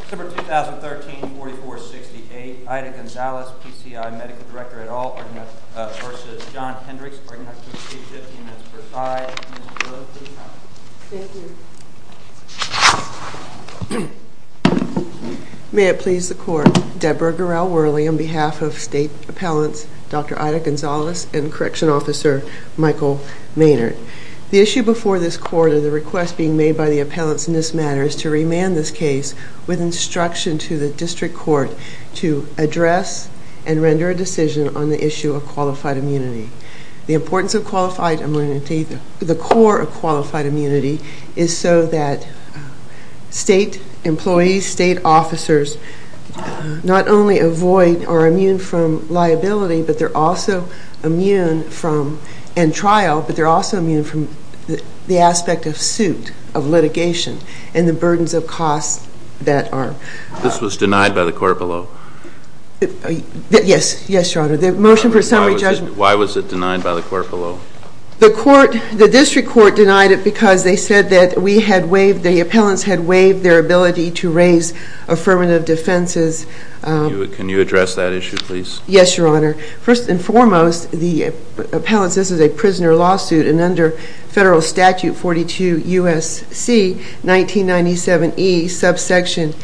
December 2013 44-68 Ida Gonzales PCI Medical Director et al. v. John Hendricks May it please the Court, Deborah Gural Worley on behalf of State Appellants, Dr. Ida Gonzales and Correction Officer Michael Maynard. The issue before this Court, or the request being made by the Appellants in this matter, is to remand this case with instruction to the District Court to address and render a decision on the issue of qualified immunity. The importance of qualified immunity, the core of qualified immunity, is so that State employees, State officers, not only avoid or are immune from liability, but they're also immune from, and trial, but they're also immune from the aspect of suit, of litigation, and the burdens of costs that are. This was denied by the Court below. Why was it denied by the Court below? The District Court denied it because they said that the Appellants had waived their ability to raise affirmative defenses. Can you address that issue, please? Yes, Your Honor. First and foremost, the Appellants, this is a prisoner lawsuit, and under Federal Statute 42 U.S.C. 1997E subsection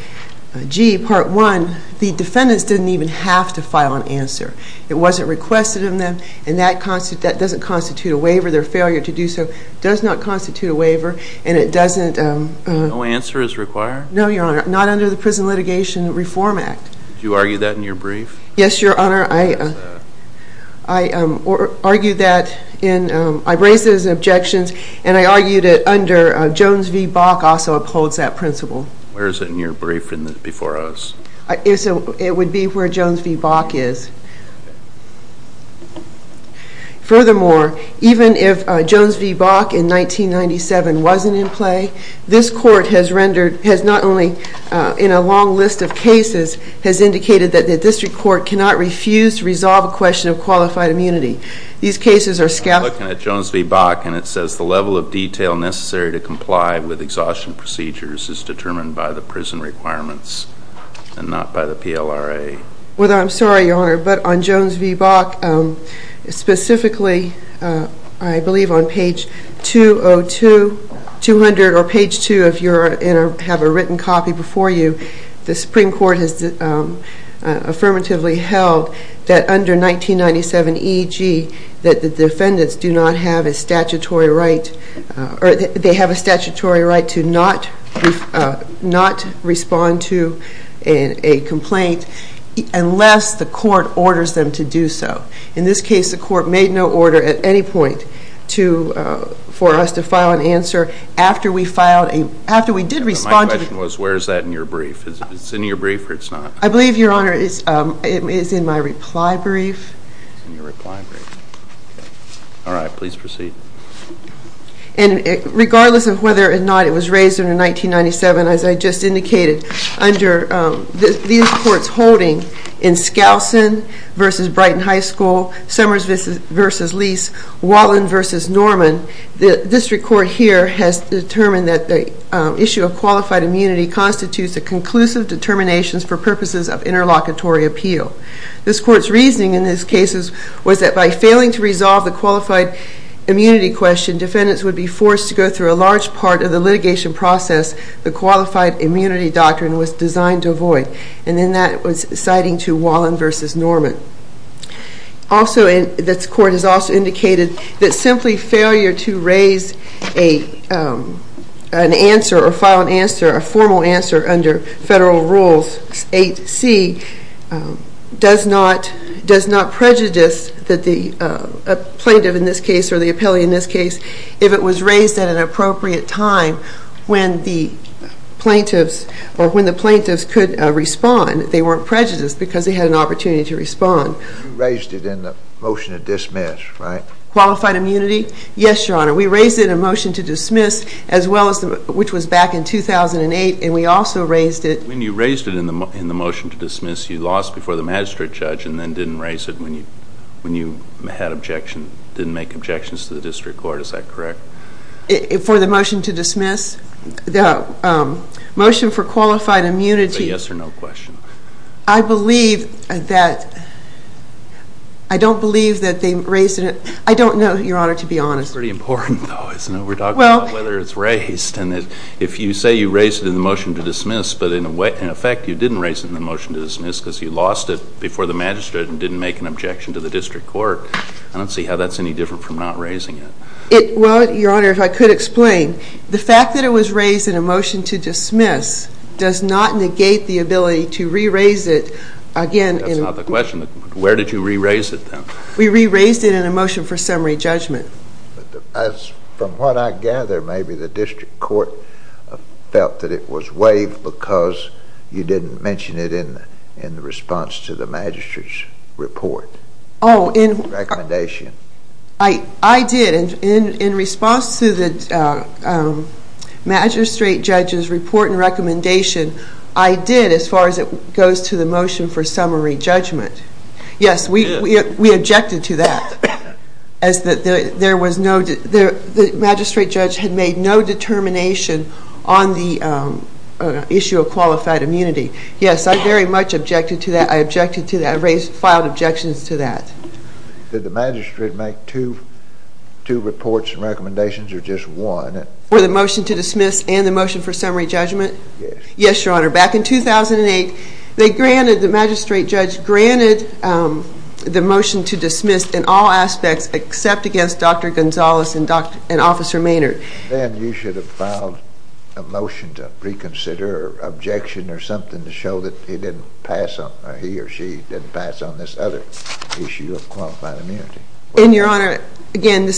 G, Part 1, the defendants didn't even have to file an answer. It wasn't requested of them, and that doesn't constitute a waiver. Their failure to do so does not constitute a waiver, and it doesn't. No answer is required? No, Your Honor. Not under the Prison Litigation Reform Act. Did you argue that in your brief? Yes, Your Honor. I raised it as an objection, and I argued it under Jones v. Bach also upholds that principle. Where is it in your brief before us? It would be where Jones v. Bach is. Furthermore, even if Jones v. Bach in 1997 wasn't in play, this Court has rendered, has not only in a long list of cases, has indicated that the District Court cannot refuse to resolve a question of qualified immunity. These cases are scaffolded. I'm looking at Jones v. Bach, and it says the level of detail necessary to comply with exhaustion procedures is determined by the prison requirements and not by the PLRA. Well, I'm sorry, Your Honor, but on Jones v. Bach, specifically, I believe on page 202, 200, or page 2 if you have a written copy before you, the Supreme Court has affirmatively held that under 1997 E.G. that the defendants do not have a statutory right to not respond to a complaint unless the Court orders them to do so. In this case, the Court made no order at any point for us to file an answer after we did respond to the complaint. My question was, where is that in your brief? Is it in your brief or it's not? I believe, Your Honor, it is in my reply brief. It's in your reply brief. All right, please proceed. And regardless of whether or not it was raised under 1997, as I just indicated, under these Courts holding in Skousen v. Brighton High School, Summers v. Lease, Wallin v. Norman, the District Court here has determined that the issue of qualified immunity constitutes a conclusive determination for purposes of interlocutory appeal. This Court's reasoning in these cases was that by failing to resolve the qualified immunity question, defendants would be forced to go through a large part of the litigation process the qualified immunity doctrine was designed to avoid. And then that was citing to Wallin v. Norman. Also, this Court has also indicated that simply failure to raise an answer or file an answer, a formal answer, under Federal Rules 8c does not prejudice that the plaintiff in this case or the appellee in this case, if it was raised at an appropriate time when the plaintiffs or when the plaintiffs could respond, they weren't prejudiced because they had an opportunity to respond. You raised it in the motion to dismiss, right? Qualified immunity? Yes, Your Honor. We raised it in a motion to dismiss as well as, which was back in 2008, and we also raised it. When you raised it in the motion to dismiss, you lost before the magistrate judge and then didn't raise it when you had objection, didn't make objections to the District Court. Is that correct? For the motion to dismiss? The motion for qualified immunity. It's a yes or no question. I believe that, I don't believe that they raised it. I don't know, Your Honor, to be honest. It's pretty important though, isn't it? We're talking about whether it's raised. If you say you raised it in the motion to dismiss, but in effect you didn't raise it in the motion to dismiss because you lost it before the magistrate and didn't make an objection to the District Court, I don't see how that's any different from not raising it. Well, Your Honor, if I could explain. The fact that it was raised in a motion to dismiss does not negate the ability to re-raise it again. That's not the question. Where did you re-raise it then? We re-raised it in a motion for summary judgment. From what I gather, maybe the District Court felt that it was waived because you didn't mention it in the response to the magistrate's report, recommendation. I did. In response to the magistrate judge's report and recommendation, I did as far as it goes to the motion for summary judgment. Yes, we objected to that. The magistrate judge had made no determination on the issue of qualified immunity. Yes, I very much objected to that. I filed objections to that. Did the magistrate make two reports and recommendations or just one? For the motion to dismiss and the motion for summary judgment? Yes. Yes, Your Honor. Back in 2008, the magistrate judge granted the motion to dismiss in all aspects except against Dr. Gonzalez and Officer Maynard. Then you should have filed a motion to reconsider or objection or something to show that he or she didn't pass on this other issue of qualified immunity. Your Honor, again,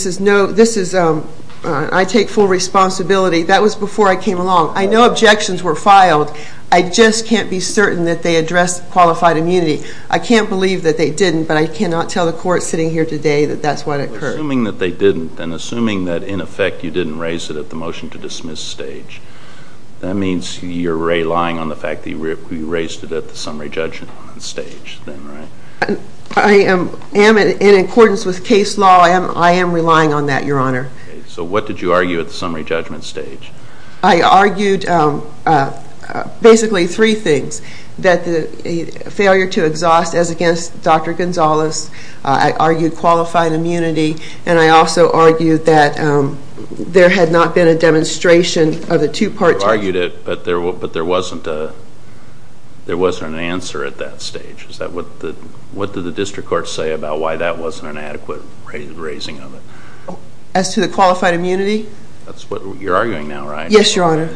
I take full responsibility. That was before I came along. I know objections were filed. I just can't be certain that they addressed qualified immunity. I can't believe that they didn't, but I cannot tell the court sitting here today that that's what occurred. Assuming that they didn't and assuming that, in effect, you didn't raise it at the motion to dismiss stage, that means you're relying on the fact that you raised it at the summary judgment stage then, right? I am in accordance with case law. I am relying on that, Your Honor. Okay. So what did you argue at the summary judgment stage? I argued basically three things, that the failure to exhaust as against Dr. Gonzalez. I argued qualified immunity, and I also argued that there had not been a demonstration of the two parts. You argued it, but there wasn't an answer at that stage. What did the district court say about why that wasn't an adequate raising of it? As to the qualified immunity? That's what you're arguing now, right? Yes, Your Honor.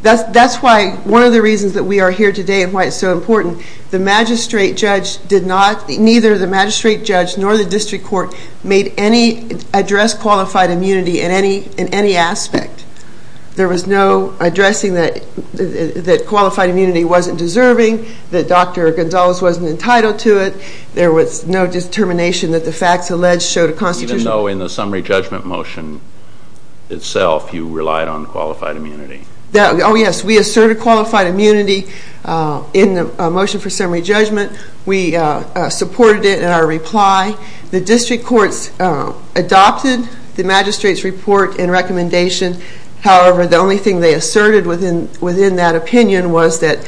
That's why one of the reasons that we are here today and why it's so important, the magistrate judge did not, neither the magistrate judge nor the district court, made any address qualified immunity in any aspect. There was no addressing that qualified immunity wasn't deserving, that Dr. Gonzalez wasn't entitled to it. There was no determination that the facts alleged showed a constitutional. So in the summary judgment motion itself, you relied on qualified immunity? Oh, yes. We asserted qualified immunity in the motion for summary judgment. We supported it in our reply. The district courts adopted the magistrate's report and recommendation. However, the only thing they asserted within that opinion was that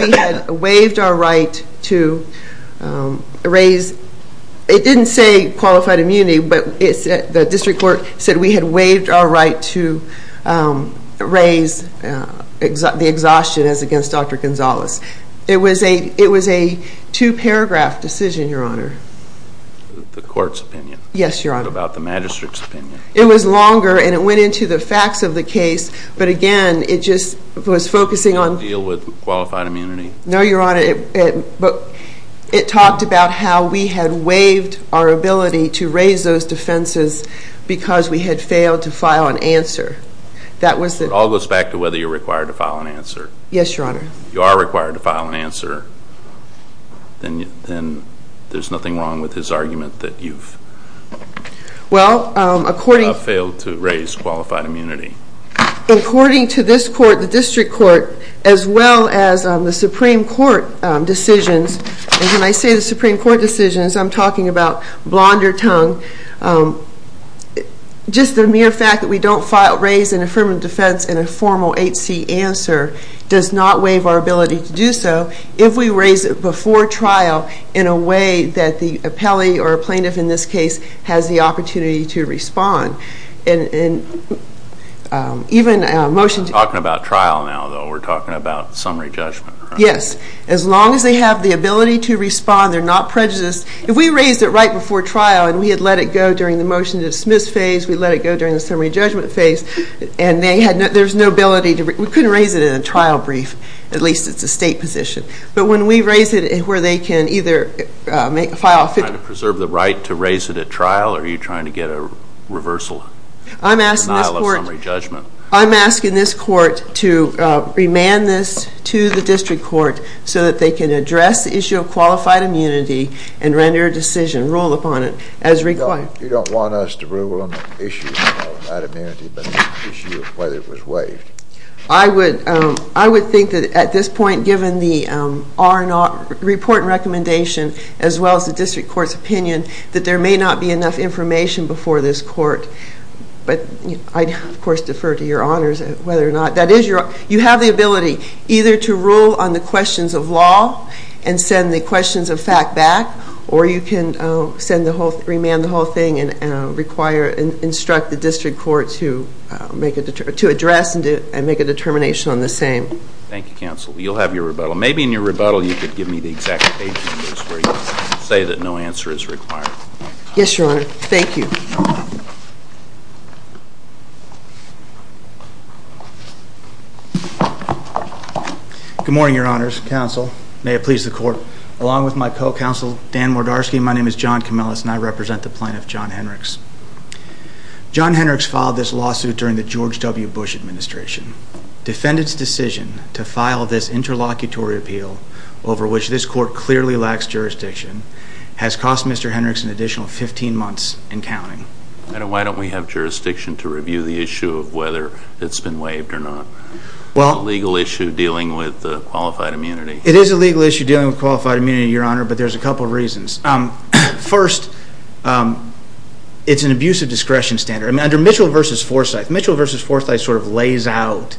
we had waived our right to raise, it didn't say qualified immunity, but the district court said we had waived our right to raise the exhaustion as against Dr. Gonzalez. It was a two-paragraph decision, Your Honor. The court's opinion? Yes, Your Honor. What about the magistrate's opinion? It was longer, and it went into the facts of the case, but again, it just was focusing on... It didn't deal with qualified immunity? No, Your Honor. It talked about how we had waived our ability to raise those defenses because we had failed to file an answer. It all goes back to whether you're required to file an answer. Yes, Your Honor. If you are required to file an answer, then there's nothing wrong with his argument that you've failed to raise qualified immunity. According to this court, the district court, as well as the Supreme Court decisions, and when I say the Supreme Court decisions, I'm talking about blonder tongue, just the mere fact that we don't raise an affirmative defense in a formal 8C answer does not waive our ability to do so if we raise it before trial in a way that the appellee or plaintiff in this case has the opportunity to respond. And even motions... You're talking about trial now, though. We're talking about summary judgment, right? Yes. As long as they have the ability to respond, they're not prejudiced. If we raised it right before trial and we had let it go during the motion to dismiss phase, we let it go during the summary judgment phase, and there's no ability to... We couldn't raise it in a trial brief. At least it's a state position. But when we raise it where they can either file... Are you trying to preserve the right to raise it at trial, or are you trying to get a reversal denial of summary judgment? I'm asking this court to remand this to the district court so that they can address the issue of qualified immunity and render a decision, rule upon it, as required. You don't want us to rule on the issue of that immunity, but the issue of whether it was waived. I would think that at this point, given the report and recommendation, as well as the district court's opinion, that there may not be enough information before this court. But I, of course, defer to your honors whether or not that is your... You have the ability either to rule on the questions of law and send the questions of fact back, or you can remand the whole thing and instruct the district court to address and make a determination on the same. Thank you, counsel. You'll have your rebuttal. Maybe in your rebuttal you could give me the exact page where you say that no answer is required. Yes, your honor. Thank you. Good morning, your honors. Counsel, may it please the court, along with my co-counsel, Dan Mordarski, my name is John Kameles and I represent the plaintiff, John Henricks. John Henricks filed this lawsuit during the George W. Bush administration. Defendant's decision to file this interlocutory appeal over which this court clearly lacks jurisdiction has cost Mr. Henricks an additional 15 months and counting. Why don't we have jurisdiction to review the issue of whether it's been waived or not? It's a legal issue dealing with qualified immunity. It is a legal issue dealing with qualified immunity, your honor, but there's a couple of reasons. First, it's an abuse of discretion standard. Under Mitchell v. Forsythe, Mitchell v. Forsythe sort of lays out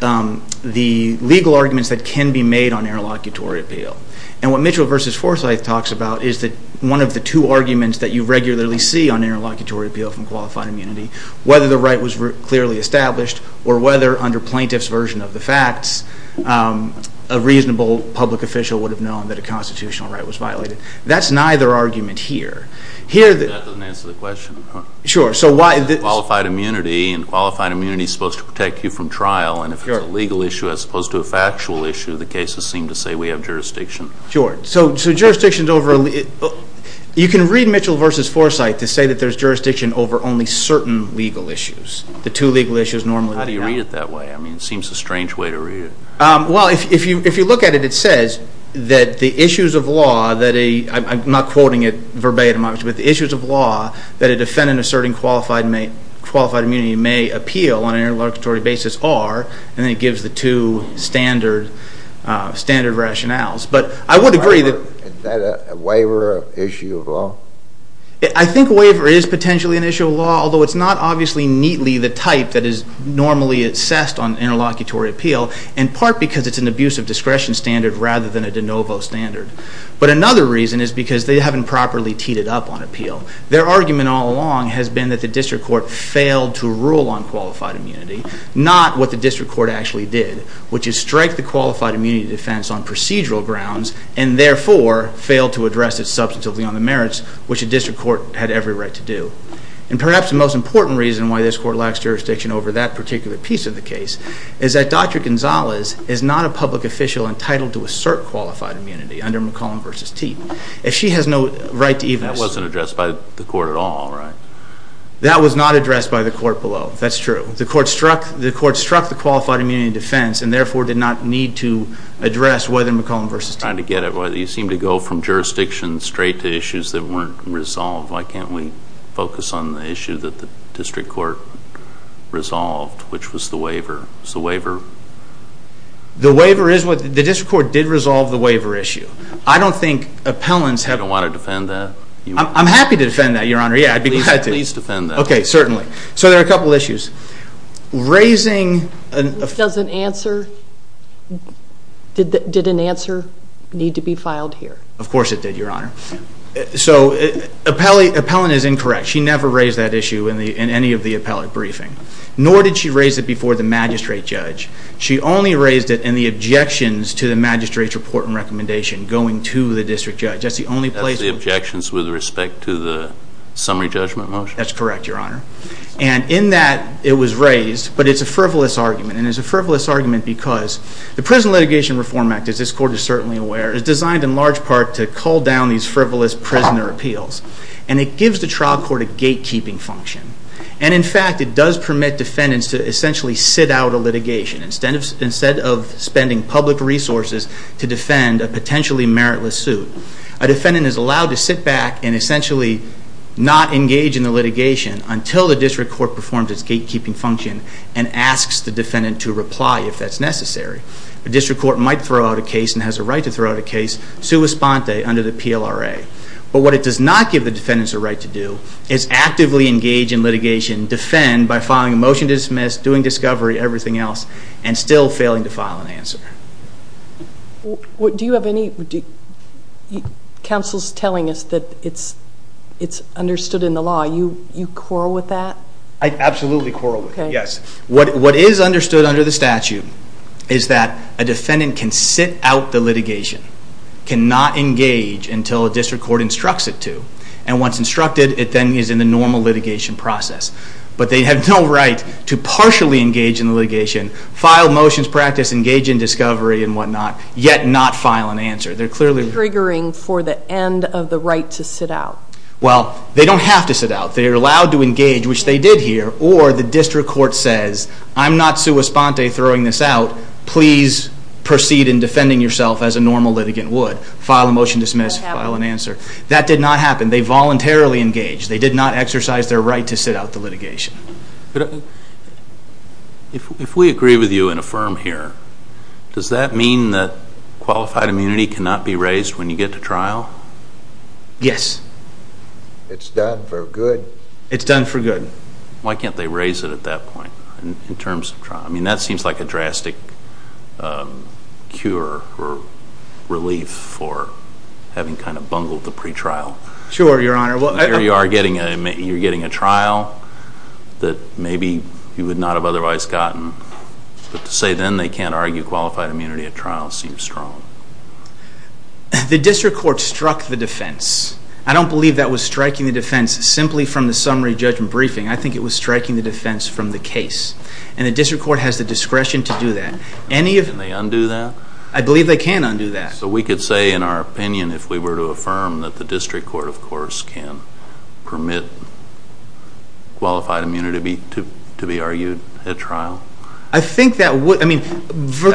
the legal arguments that can be made on interlocutory appeal. And what Mitchell v. Forsythe talks about is that one of the two arguments that you regularly see on interlocutory appeal whether the right was clearly established or whether under plaintiff's version of the facts, a reasonable public official would have known that a constitutional right was violated. That's neither argument here. That doesn't answer the question. Sure. Qualified immunity and qualified immunity is supposed to protect you from trial. And if it's a legal issue as opposed to a factual issue, the cases seem to say we have jurisdiction. Sure. So jurisdiction is over. You can read Mitchell v. Forsythe to say that there's jurisdiction over only certain legal issues, the two legal issues normally. How do you read it that way? I mean, it seems a strange way to read it. Well, if you look at it, it says that the issues of law that a, I'm not quoting it verbatim, but the issues of law that a defendant asserting qualified immunity may appeal on an interlocutory basis are, and then it gives the two standard rationales. But I would agree that... Is that a waiver of issue of law? I think waiver is potentially an issue of law, although it's not obviously neatly the type that is normally assessed on interlocutory appeal, in part because it's an abusive discretion standard rather than a de novo standard. But another reason is because they haven't properly teed it up on appeal. Their argument all along has been that the district court failed to rule on qualified immunity, not what the district court actually did, which is strike the qualified immunity defense on procedural grounds and therefore failed to address it substantively on the merits, which the district court had every right to do. And perhaps the most important reason why this court lacks jurisdiction over that particular piece of the case is that Dr. Gonzalez is not a public official entitled to assert qualified immunity under McCollum v. Teat. If she has no right to even... That wasn't addressed by the court at all, right? That was not addressed by the court below. That's true. The court struck the qualified immunity defense and therefore did not need to address whether McCollum v. Teat. You seem to go from jurisdiction straight to issues that weren't resolved. Why can't we focus on the issue that the district court resolved, which was the waiver? The district court did resolve the waiver issue. I don't think appellants have... You don't want to defend that? I'm happy to defend that, Your Honor. Please defend that. Okay, certainly. So there are a couple of issues. Raising... Does an answer... Did an answer need to be filed here? Of course it did, Your Honor. So appellant is incorrect. She never raised that issue in any of the appellate briefing. Nor did she raise it before the magistrate judge. She only raised it in the objections to the magistrate's report and recommendation going to the district judge. That's the only place... That's the objections with respect to the summary judgment motion? That's correct, Your Honor. And in that, it was raised, but it's a frivolous argument. And it's a frivolous argument because the Prison Litigation Reform Act, as this court is certainly aware, is designed in large part to cull down these frivolous prisoner appeals. And it gives the trial court a gatekeeping function. And, in fact, it does permit defendants to essentially sit out a litigation instead of spending public resources to defend a potentially meritless suit. A defendant is allowed to sit back and essentially not engage in the litigation until the district court performs its gatekeeping function and asks the defendant to reply if that's necessary. The district court might throw out a case and has a right to throw out a case sua sponte under the PLRA. But what it does not give the defendants a right to do is actively engage in litigation, defend by filing a motion to dismiss, doing discovery, everything else, and still failing to file an answer. Do you have any... Counsel's telling us that it's understood in the law. You quarrel with that? I absolutely quarrel with it, yes. What is understood under the statute is that a defendant can sit out the litigation, cannot engage until a district court instructs it to. And once instructed, it then is in the normal litigation process. But they have no right to partially engage in the litigation, file motions, practice, engage in discovery, and whatnot, yet not file an answer. They're clearly... Triggering for the end of the right to sit out. Well, they don't have to sit out. They're allowed to engage, which they did here, or the district court says, I'm not sua sponte throwing this out. Please proceed in defending yourself as a normal litigant would. File a motion to dismiss, file an answer. That did not happen. They voluntarily engaged. They did not exercise their right to sit out the litigation. If we agree with you and affirm here, does that mean that qualified immunity cannot be raised when you get to trial? Yes. It's done for good. It's done for good. Why can't they raise it at that point in terms of trial? I mean, that seems like a drastic cure or relief for having kind of bungled the pretrial. Sure, Your Honor. Here you are getting a trial that maybe you would not have otherwise gotten. But to say then they can't argue qualified immunity at trial seems strong. The district court struck the defense. I don't believe that was striking the defense simply from the summary judgment briefing. I think it was striking the defense from the case. And the district court has the discretion to do that. Can they undo that? I believe they can undo that. So we could say in our opinion if we were to affirm that the district court, of course, can permit qualified immunity to be argued at trial? I think that would. That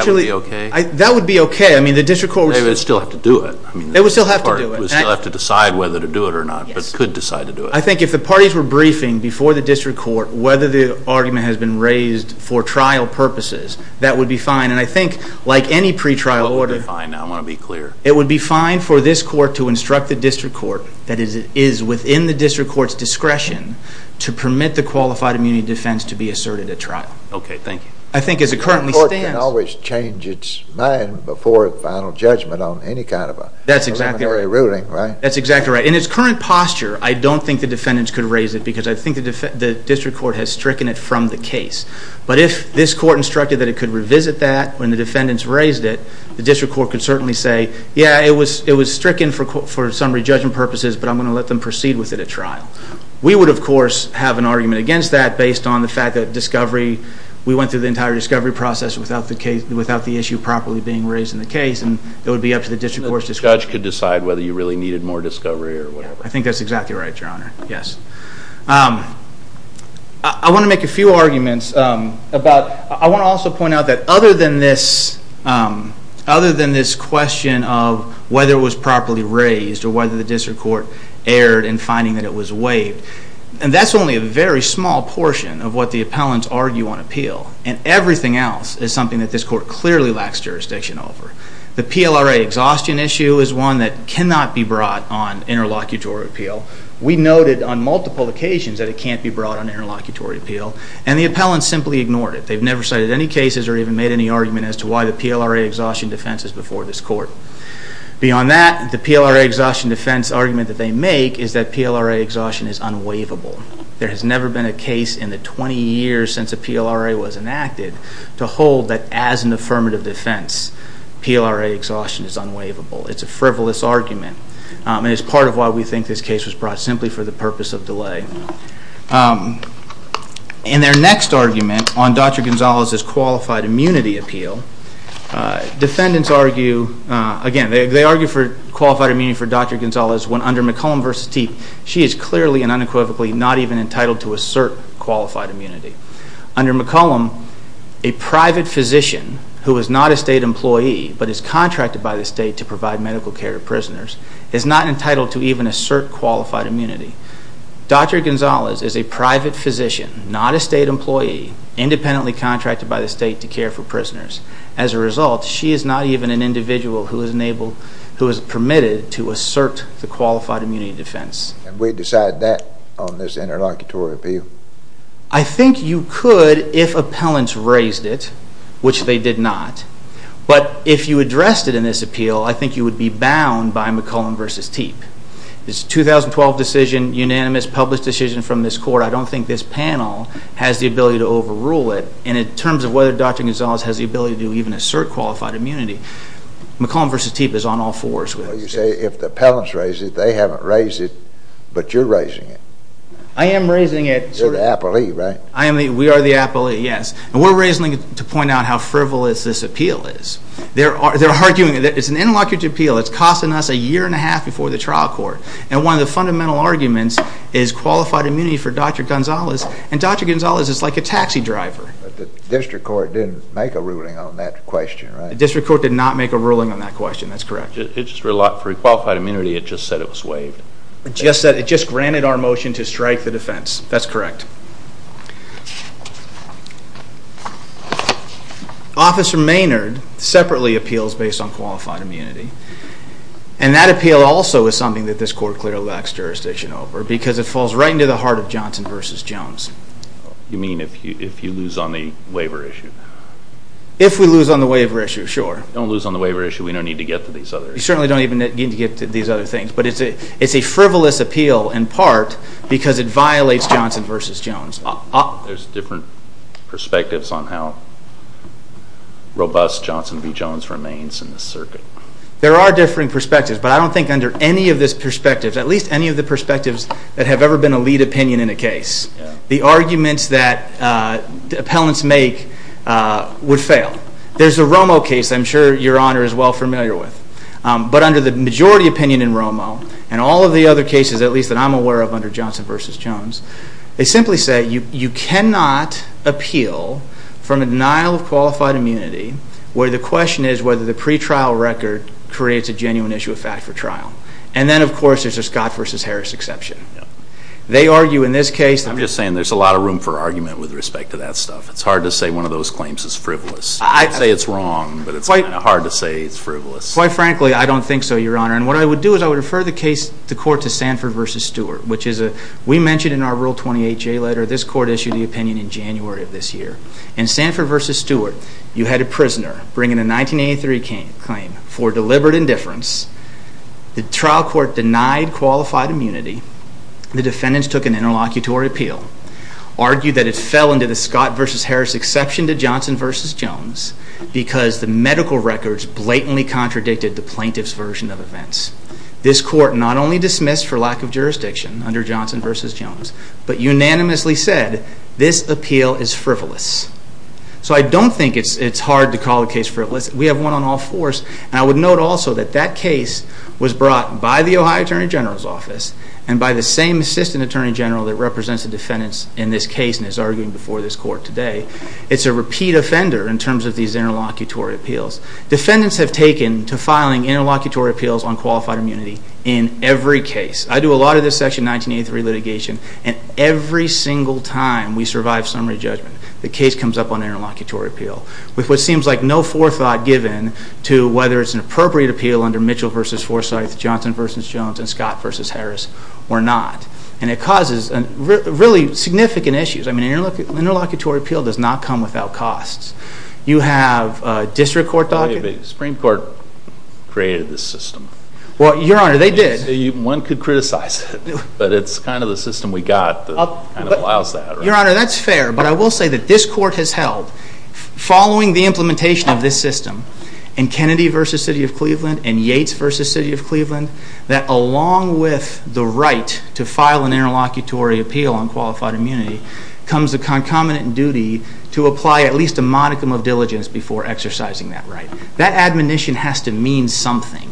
would be okay? That would be okay. I mean, the district court would still have to do it. They would still have to do it. They would still have to decide whether to do it or not, but could decide to do it. I think if the parties were briefing before the district court whether the argument has been raised for trial purposes, that would be fine. And I think like any pretrial order. That would be fine. I want to be clear. It would be fine for this court to instruct the district court that it is within the district court's discretion to permit the qualified immunity defense to be asserted at trial. Okay. Thank you. I think as it currently stands. The court can always change its mind before a final judgment on any kind of a preliminary ruling, right? That's exactly right. In its current posture, I don't think the defendants could raise it because I think the district court has stricken it from the case. But if this court instructed that it could revisit that when the defendants raised it, the district court could certainly say, yeah, it was stricken for summary judgment purposes, but I'm going to let them proceed with it at trial. We would, of course, have an argument against that based on the fact that discovery, we went through the entire discovery process without the issue properly being raised in the case, and it would be up to the district court's discretion. The judge could decide whether you really needed more discovery or whatever. I think that's exactly right, Your Honor. Yes. I want to make a few arguments. I want to also point out that other than this question of whether it was properly raised or whether the district court erred in finding that it was waived, and that's only a very small portion of what the appellants argue on appeal, and everything else is something that this court clearly lacks jurisdiction over. The PLRA exhaustion issue is one that cannot be brought on interlocutory appeal. We noted on multiple occasions that it can't be brought on interlocutory appeal, and the appellants simply ignored it. They've never cited any cases or even made any argument as to why the PLRA exhaustion defense is before this court. Beyond that, the PLRA exhaustion defense argument that they make is that PLRA exhaustion is unwaivable. There has never been a case in the 20 years since a PLRA was enacted to hold that as an affirmative defense, PLRA exhaustion is unwaivable. It's a frivolous argument, and it's part of why we think this case was brought simply for the purpose of delay. In their next argument on Dr. Gonzalez's qualified immunity appeal, defendants argue, again, they argue for qualified immunity for Dr. Gonzalez when under McCollum v. Teep, she is clearly and unequivocally not even entitled to assert qualified immunity. Under McCollum, a private physician who is not a state employee but is contracted by the state to provide medical care to prisoners is not entitled to even assert qualified immunity. Dr. Gonzalez is a private physician, not a state employee, independently contracted by the state to care for prisoners. As a result, she is not even an individual who is permitted to assert the qualified immunity defense. And we decide that on this interlocutory appeal? I think you could if appellants raised it, which they did not. But if you addressed it in this appeal, I think you would be bound by McCollum v. Teep. It's a 2012 decision, unanimous, published decision from this court. I don't think this panel has the ability to overrule it. And in terms of whether Dr. Gonzalez has the ability to even assert qualified immunity, McCollum v. Teep is on all fours with this case. Well, you say if the appellants raised it, they haven't raised it, but you're raising it. I am raising it. You're the appellee, right? We are the appellee, yes. And we're raising it to point out how frivolous this appeal is. They're arguing that it's an interlocutory appeal. It's costing us a year and a half before the trial court. And one of the fundamental arguments is qualified immunity for Dr. Gonzalez, and Dr. Gonzalez is like a taxi driver. The district court didn't make a ruling on that question, right? The district court did not make a ruling on that question. That's correct. For qualified immunity, it just said it was waived. It just granted our motion to strike the defense. That's correct. Officer Maynard separately appeals based on qualified immunity, and that appeal also is something that this court clearly lacks jurisdiction over because it falls right into the heart of Johnson v. Jones. You mean if you lose on the waiver issue? If we lose on the waiver issue, sure. Don't lose on the waiver issue. We don't need to get to these other issues. We certainly don't need to get to these other things. There's different perspectives on how robust Johnson v. Jones remains in this circuit. There are differing perspectives, but I don't think under any of these perspectives, at least any of the perspectives that have ever been a lead opinion in a case, the arguments that appellants make would fail. There's a Romo case I'm sure Your Honor is well familiar with, but under the majority opinion in Romo and all of the other cases, at least that I'm aware of under Johnson v. Jones, they simply say you cannot appeal from a denial of qualified immunity where the question is whether the pretrial record creates a genuine issue of fact for trial. And then, of course, there's a Scott v. Harris exception. They argue in this case that… I'm just saying there's a lot of room for argument with respect to that stuff. It's hard to say one of those claims is frivolous. I'd say it's wrong, but it's kind of hard to say it's frivolous. Quite frankly, I don't think so, Your Honor. And what I would do is I would refer the case to court to Sanford v. Stewart, which we mentioned in our Rule 28 J letter. This court issued the opinion in January of this year. In Sanford v. Stewart, you had a prisoner bringing a 1983 claim for deliberate indifference. The trial court denied qualified immunity. The defendants took an interlocutory appeal, argued that it fell under the Scott v. Harris exception to Johnson v. Jones because the medical records blatantly contradicted the plaintiff's version of events. This court not only dismissed for lack of jurisdiction under Johnson v. Jones, but unanimously said this appeal is frivolous. So I don't think it's hard to call the case frivolous. We have one on all fours. And I would note also that that case was brought by the Ohio Attorney General's office and by the same Assistant Attorney General that represents the defendants in this case and is arguing before this court today. It's a repeat offender in terms of these interlocutory appeals. Defendants have taken to filing interlocutory appeals on qualified immunity in every case. I do a lot of this Section 1983 litigation, and every single time we survive summary judgment, the case comes up on interlocutory appeal with what seems like no forethought given to whether it's an appropriate appeal under Mitchell v. Forsythe, Johnson v. Jones, and Scott v. Harris or not. And it causes really significant issues. I mean, an interlocutory appeal does not come without costs. You have district court documents. The Supreme Court created this system. Well, Your Honor, they did. One could criticize it, but it's kind of the system we got that allows that. Your Honor, that's fair, but I will say that this court has held, following the implementation of this system in Kennedy v. City of Cleveland and Yates v. City of Cleveland, that along with the right to file an interlocutory appeal on qualified immunity comes the concomitant duty to apply at least a modicum of diligence before exercising that right. That admonition has to mean something,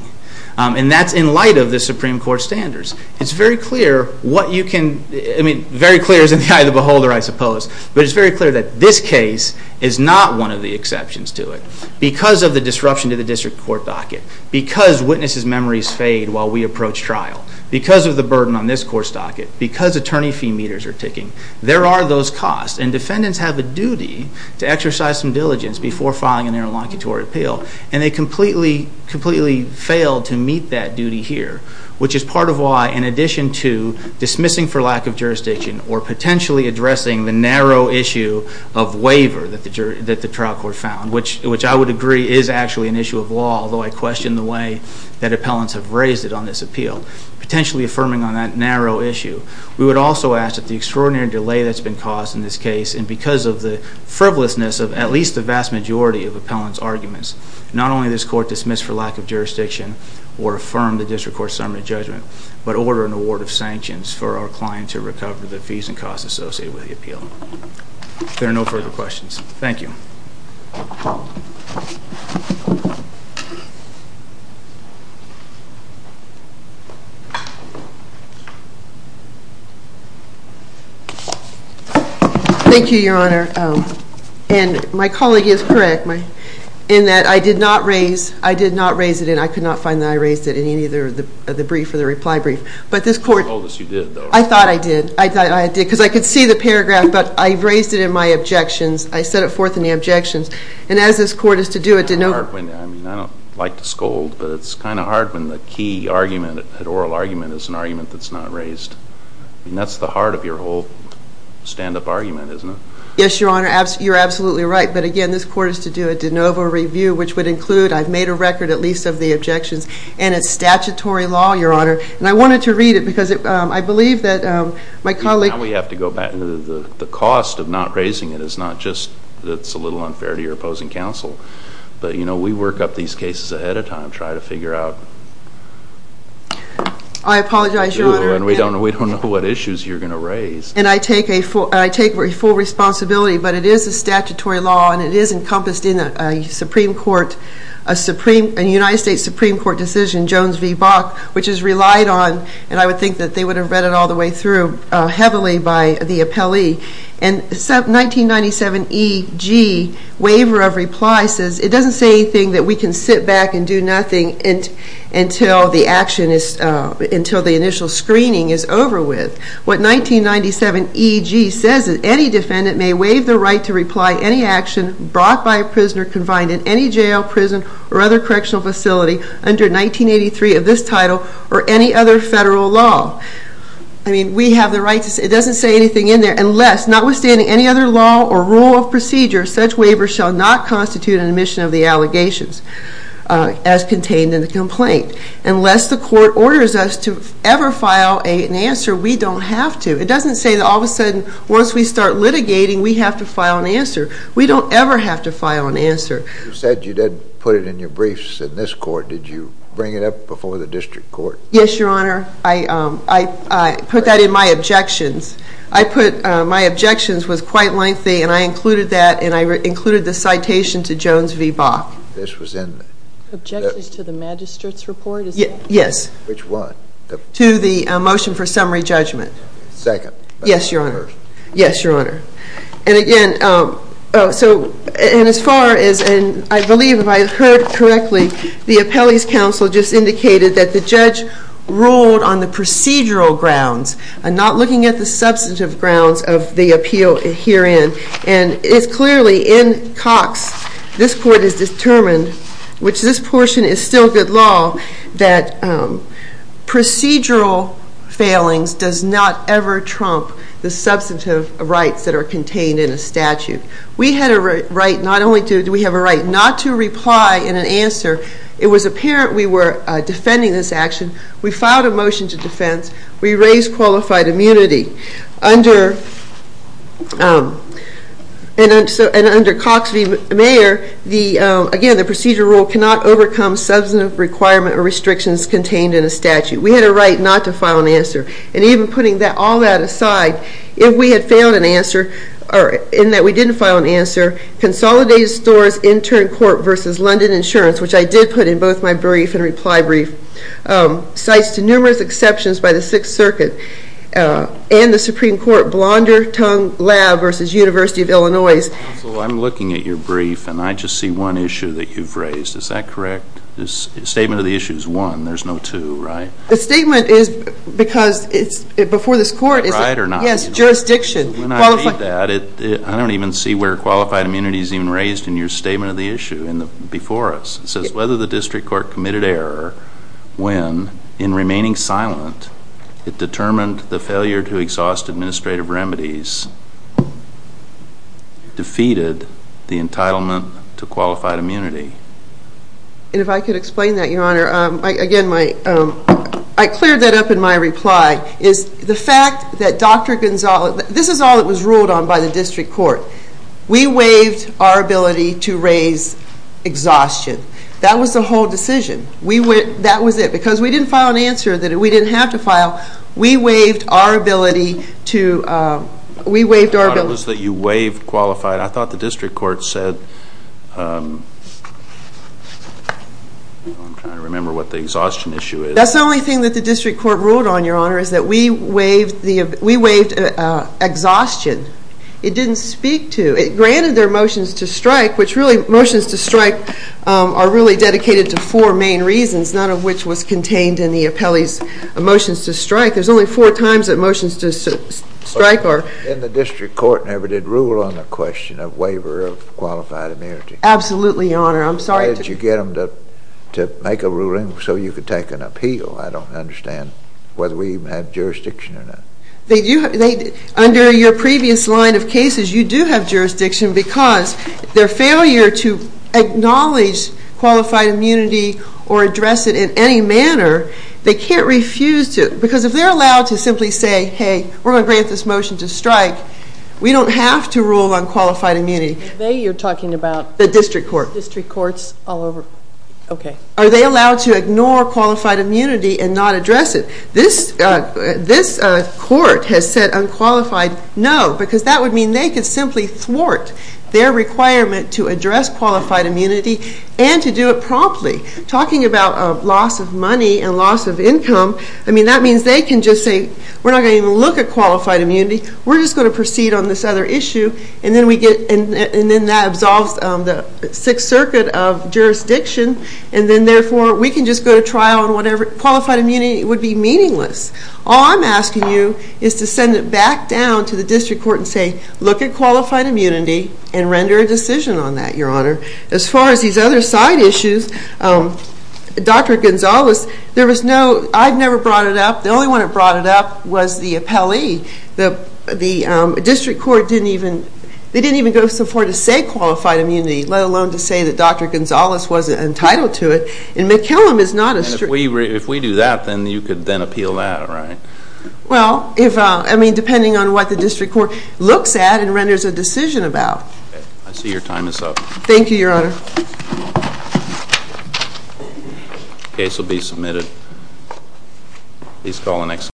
and that's in light of the Supreme Court standards. It's very clear what you can, I mean, very clear is in the eye of the beholder, I suppose, but it's very clear that this case is not one of the exceptions to it. Because of the disruption to the district court docket, because witnesses' memories fade while we approach trial, because of the burden on this court's docket, because attorney fee meters are ticking, there are those costs, and defendants have a duty to exercise some diligence before filing an interlocutory appeal, and they completely failed to meet that duty here, which is part of why, in addition to dismissing for lack of jurisdiction or potentially addressing the narrow issue of waiver that the trial court found, which I would agree is actually an issue of law, although I question the way that appellants have raised it on this appeal, potentially affirming on that narrow issue. We would also ask that the extraordinary delay that's been caused in this case, and because of the frivolousness of at least the vast majority of appellants' arguments, not only this court dismiss for lack of jurisdiction or affirm the district court's summary judgment, but order an award of sanctions for our client to recover the fees and costs associated with the appeal. There are no further questions. Thank you. Thank you, Your Honor. And my colleague is correct in that I did not raise it, and I could not find that I raised it in either the brief or the reply brief, but this court- You scolded us you did, though. I thought I did. I thought I did, because I could see the paragraph, but I raised it in my objections. I set it forth in the objections, and as this court is to do, it did not- but it's kind of hard when the key argument had already been made, and the oral argument is an argument that's not raised, and that's the heart of your whole stand-up argument, isn't it? Yes, Your Honor, you're absolutely right, but again, this court is to do a de novo review, which would include I've made a record at least of the objections, and it's statutory law, Your Honor, and I wanted to read it because I believe that my colleague- Now we have to go back. The cost of not raising it is not just that it's a little unfair to your opposing counsel, but we work up these cases ahead of time, and try to figure out- I apologize, Your Honor. We don't know what issues you're going to raise. And I take full responsibility, but it is a statutory law, and it is encompassed in a Supreme Court, a United States Supreme Court decision, Jones v. Bach, which is relied on, and I would think that they would have read it all the way through, heavily by the appellee, and 1997 E.G. waiver of reply says it doesn't say anything that we can sit back and do nothing until the initial screening is over with. What 1997 E.G. says is, any defendant may waive the right to reply any action brought by a prisoner confined in any jail, prison, or other correctional facility under 1983 of this title or any other federal law. I mean, we have the right to say- It doesn't say anything in there, unless, notwithstanding any other law or rule of procedure, such waiver shall not constitute an admission of the allegations as contained in the complaint. Unless the court orders us to ever file an answer, we don't have to. It doesn't say that all of a sudden, once we start litigating, we have to file an answer. We don't ever have to file an answer. You said you didn't put it in your briefs in this court. Did you bring it up before the district court? Yes, Your Honor. I put that in my objections. My objections was quite lengthy, and I included that, and I included the citation to Jones v. Bach. This was in the- Objections to the magistrate's report? Yes. Which one? To the motion for summary judgment. Second. Yes, Your Honor. First. Yes, Your Honor. And again, so, and as far as, and I believe if I heard correctly, the appellee's counsel just indicated that the judge ruled on the procedural grounds and not looking at the substantive grounds of the appeal herein. And it's clearly in Cox, this court has determined, which this portion is still good law, that procedural failings does not ever trump the substantive rights that are contained in a statute. We had a right not only to, we have a right not to reply in an answer. It was apparent we were defending this action. We filed a motion to defense. We raised qualified immunity. And under Cox v. Mayer, again, the procedural rule cannot overcome substantive requirement or restrictions contained in a statute. We had a right not to file an answer. And even putting all that aside, if we had failed an answer in that we didn't file an answer, Consolidated Stores Intern Court v. London Insurance, which I did put in both my brief and reply brief, cites to numerous exceptions by the Sixth Circuit and the Supreme Court Blondertongue Lab v. University of Illinois. Counsel, I'm looking at your brief and I just see one issue that you've raised. Is that correct? The statement of the issue is one. There's no two, right? The statement is because it's before this court. Right or not? Yes, jurisdiction. When I read that, I don't even see where qualified immunity is even raised in your statement of the issue before us. It says whether the district court committed error when, in remaining silent, it determined the failure to exhaust administrative remedies defeated the entitlement to qualified immunity. And if I could explain that, Your Honor. Again, I cleared that up in my reply. The fact that Dr. Gonzales, this is all that was ruled on by the district court. We waived our ability to raise exhaustion. That was the whole decision. That was it. Because we didn't file an answer that we didn't have to file, we waived our ability to... I thought it was that you waived qualified. I thought the district court said... I'm trying to remember what the exhaustion issue is. That's the only thing that the district court ruled on, Your Honor, is that we waived exhaustion. It didn't speak to... It granted their motions to strike, which really, motions to strike are really dedicated to four main reasons, none of which was contained in the appellee's motions to strike. There's only four times that motions to strike are... And the district court never did rule on the question of waiver of qualified immunity. Absolutely, Your Honor. I'm sorry. Why did you get them to make a ruling so you could take an appeal? I don't understand whether we even had jurisdiction or not. Under your previous line of cases, you do have jurisdiction because their failure to acknowledge qualified immunity or address it in any manner, they can't refuse to... Because if they're allowed to simply say, hey, we're going to grant this motion to strike, we don't have to rule on qualified immunity. They, you're talking about... The district court. District courts all over... Okay. Are they allowed to ignore qualified immunity and not address it? This court has said unqualified, no, because that would mean they could simply thwart their requirement to address qualified immunity and to do it promptly. Talking about loss of money and loss of income, I mean, that means they can just say, we're not going to even look at qualified immunity. We're just going to proceed on this other issue. And then we get... And then that absolves the Sixth Circuit of jurisdiction. And then, therefore, we can just go to trial on whatever... All I'm asking you is to send it back down to the district court and say, look at qualified immunity and render a decision on that, Your Honor. As far as these other side issues, Dr. Gonzales, there was no... I've never brought it up. The only one that brought it up was the appellee. The district court didn't even... They didn't even go so far to say qualified immunity, let alone to say that Dr. Gonzales wasn't entitled to it. And McKillum is not a... If we do that, then you could then appeal that, right? Well, if... I mean, depending on what the district court looks at and renders a decision about. I see your time is up. Thank you, Your Honor. Please call the next...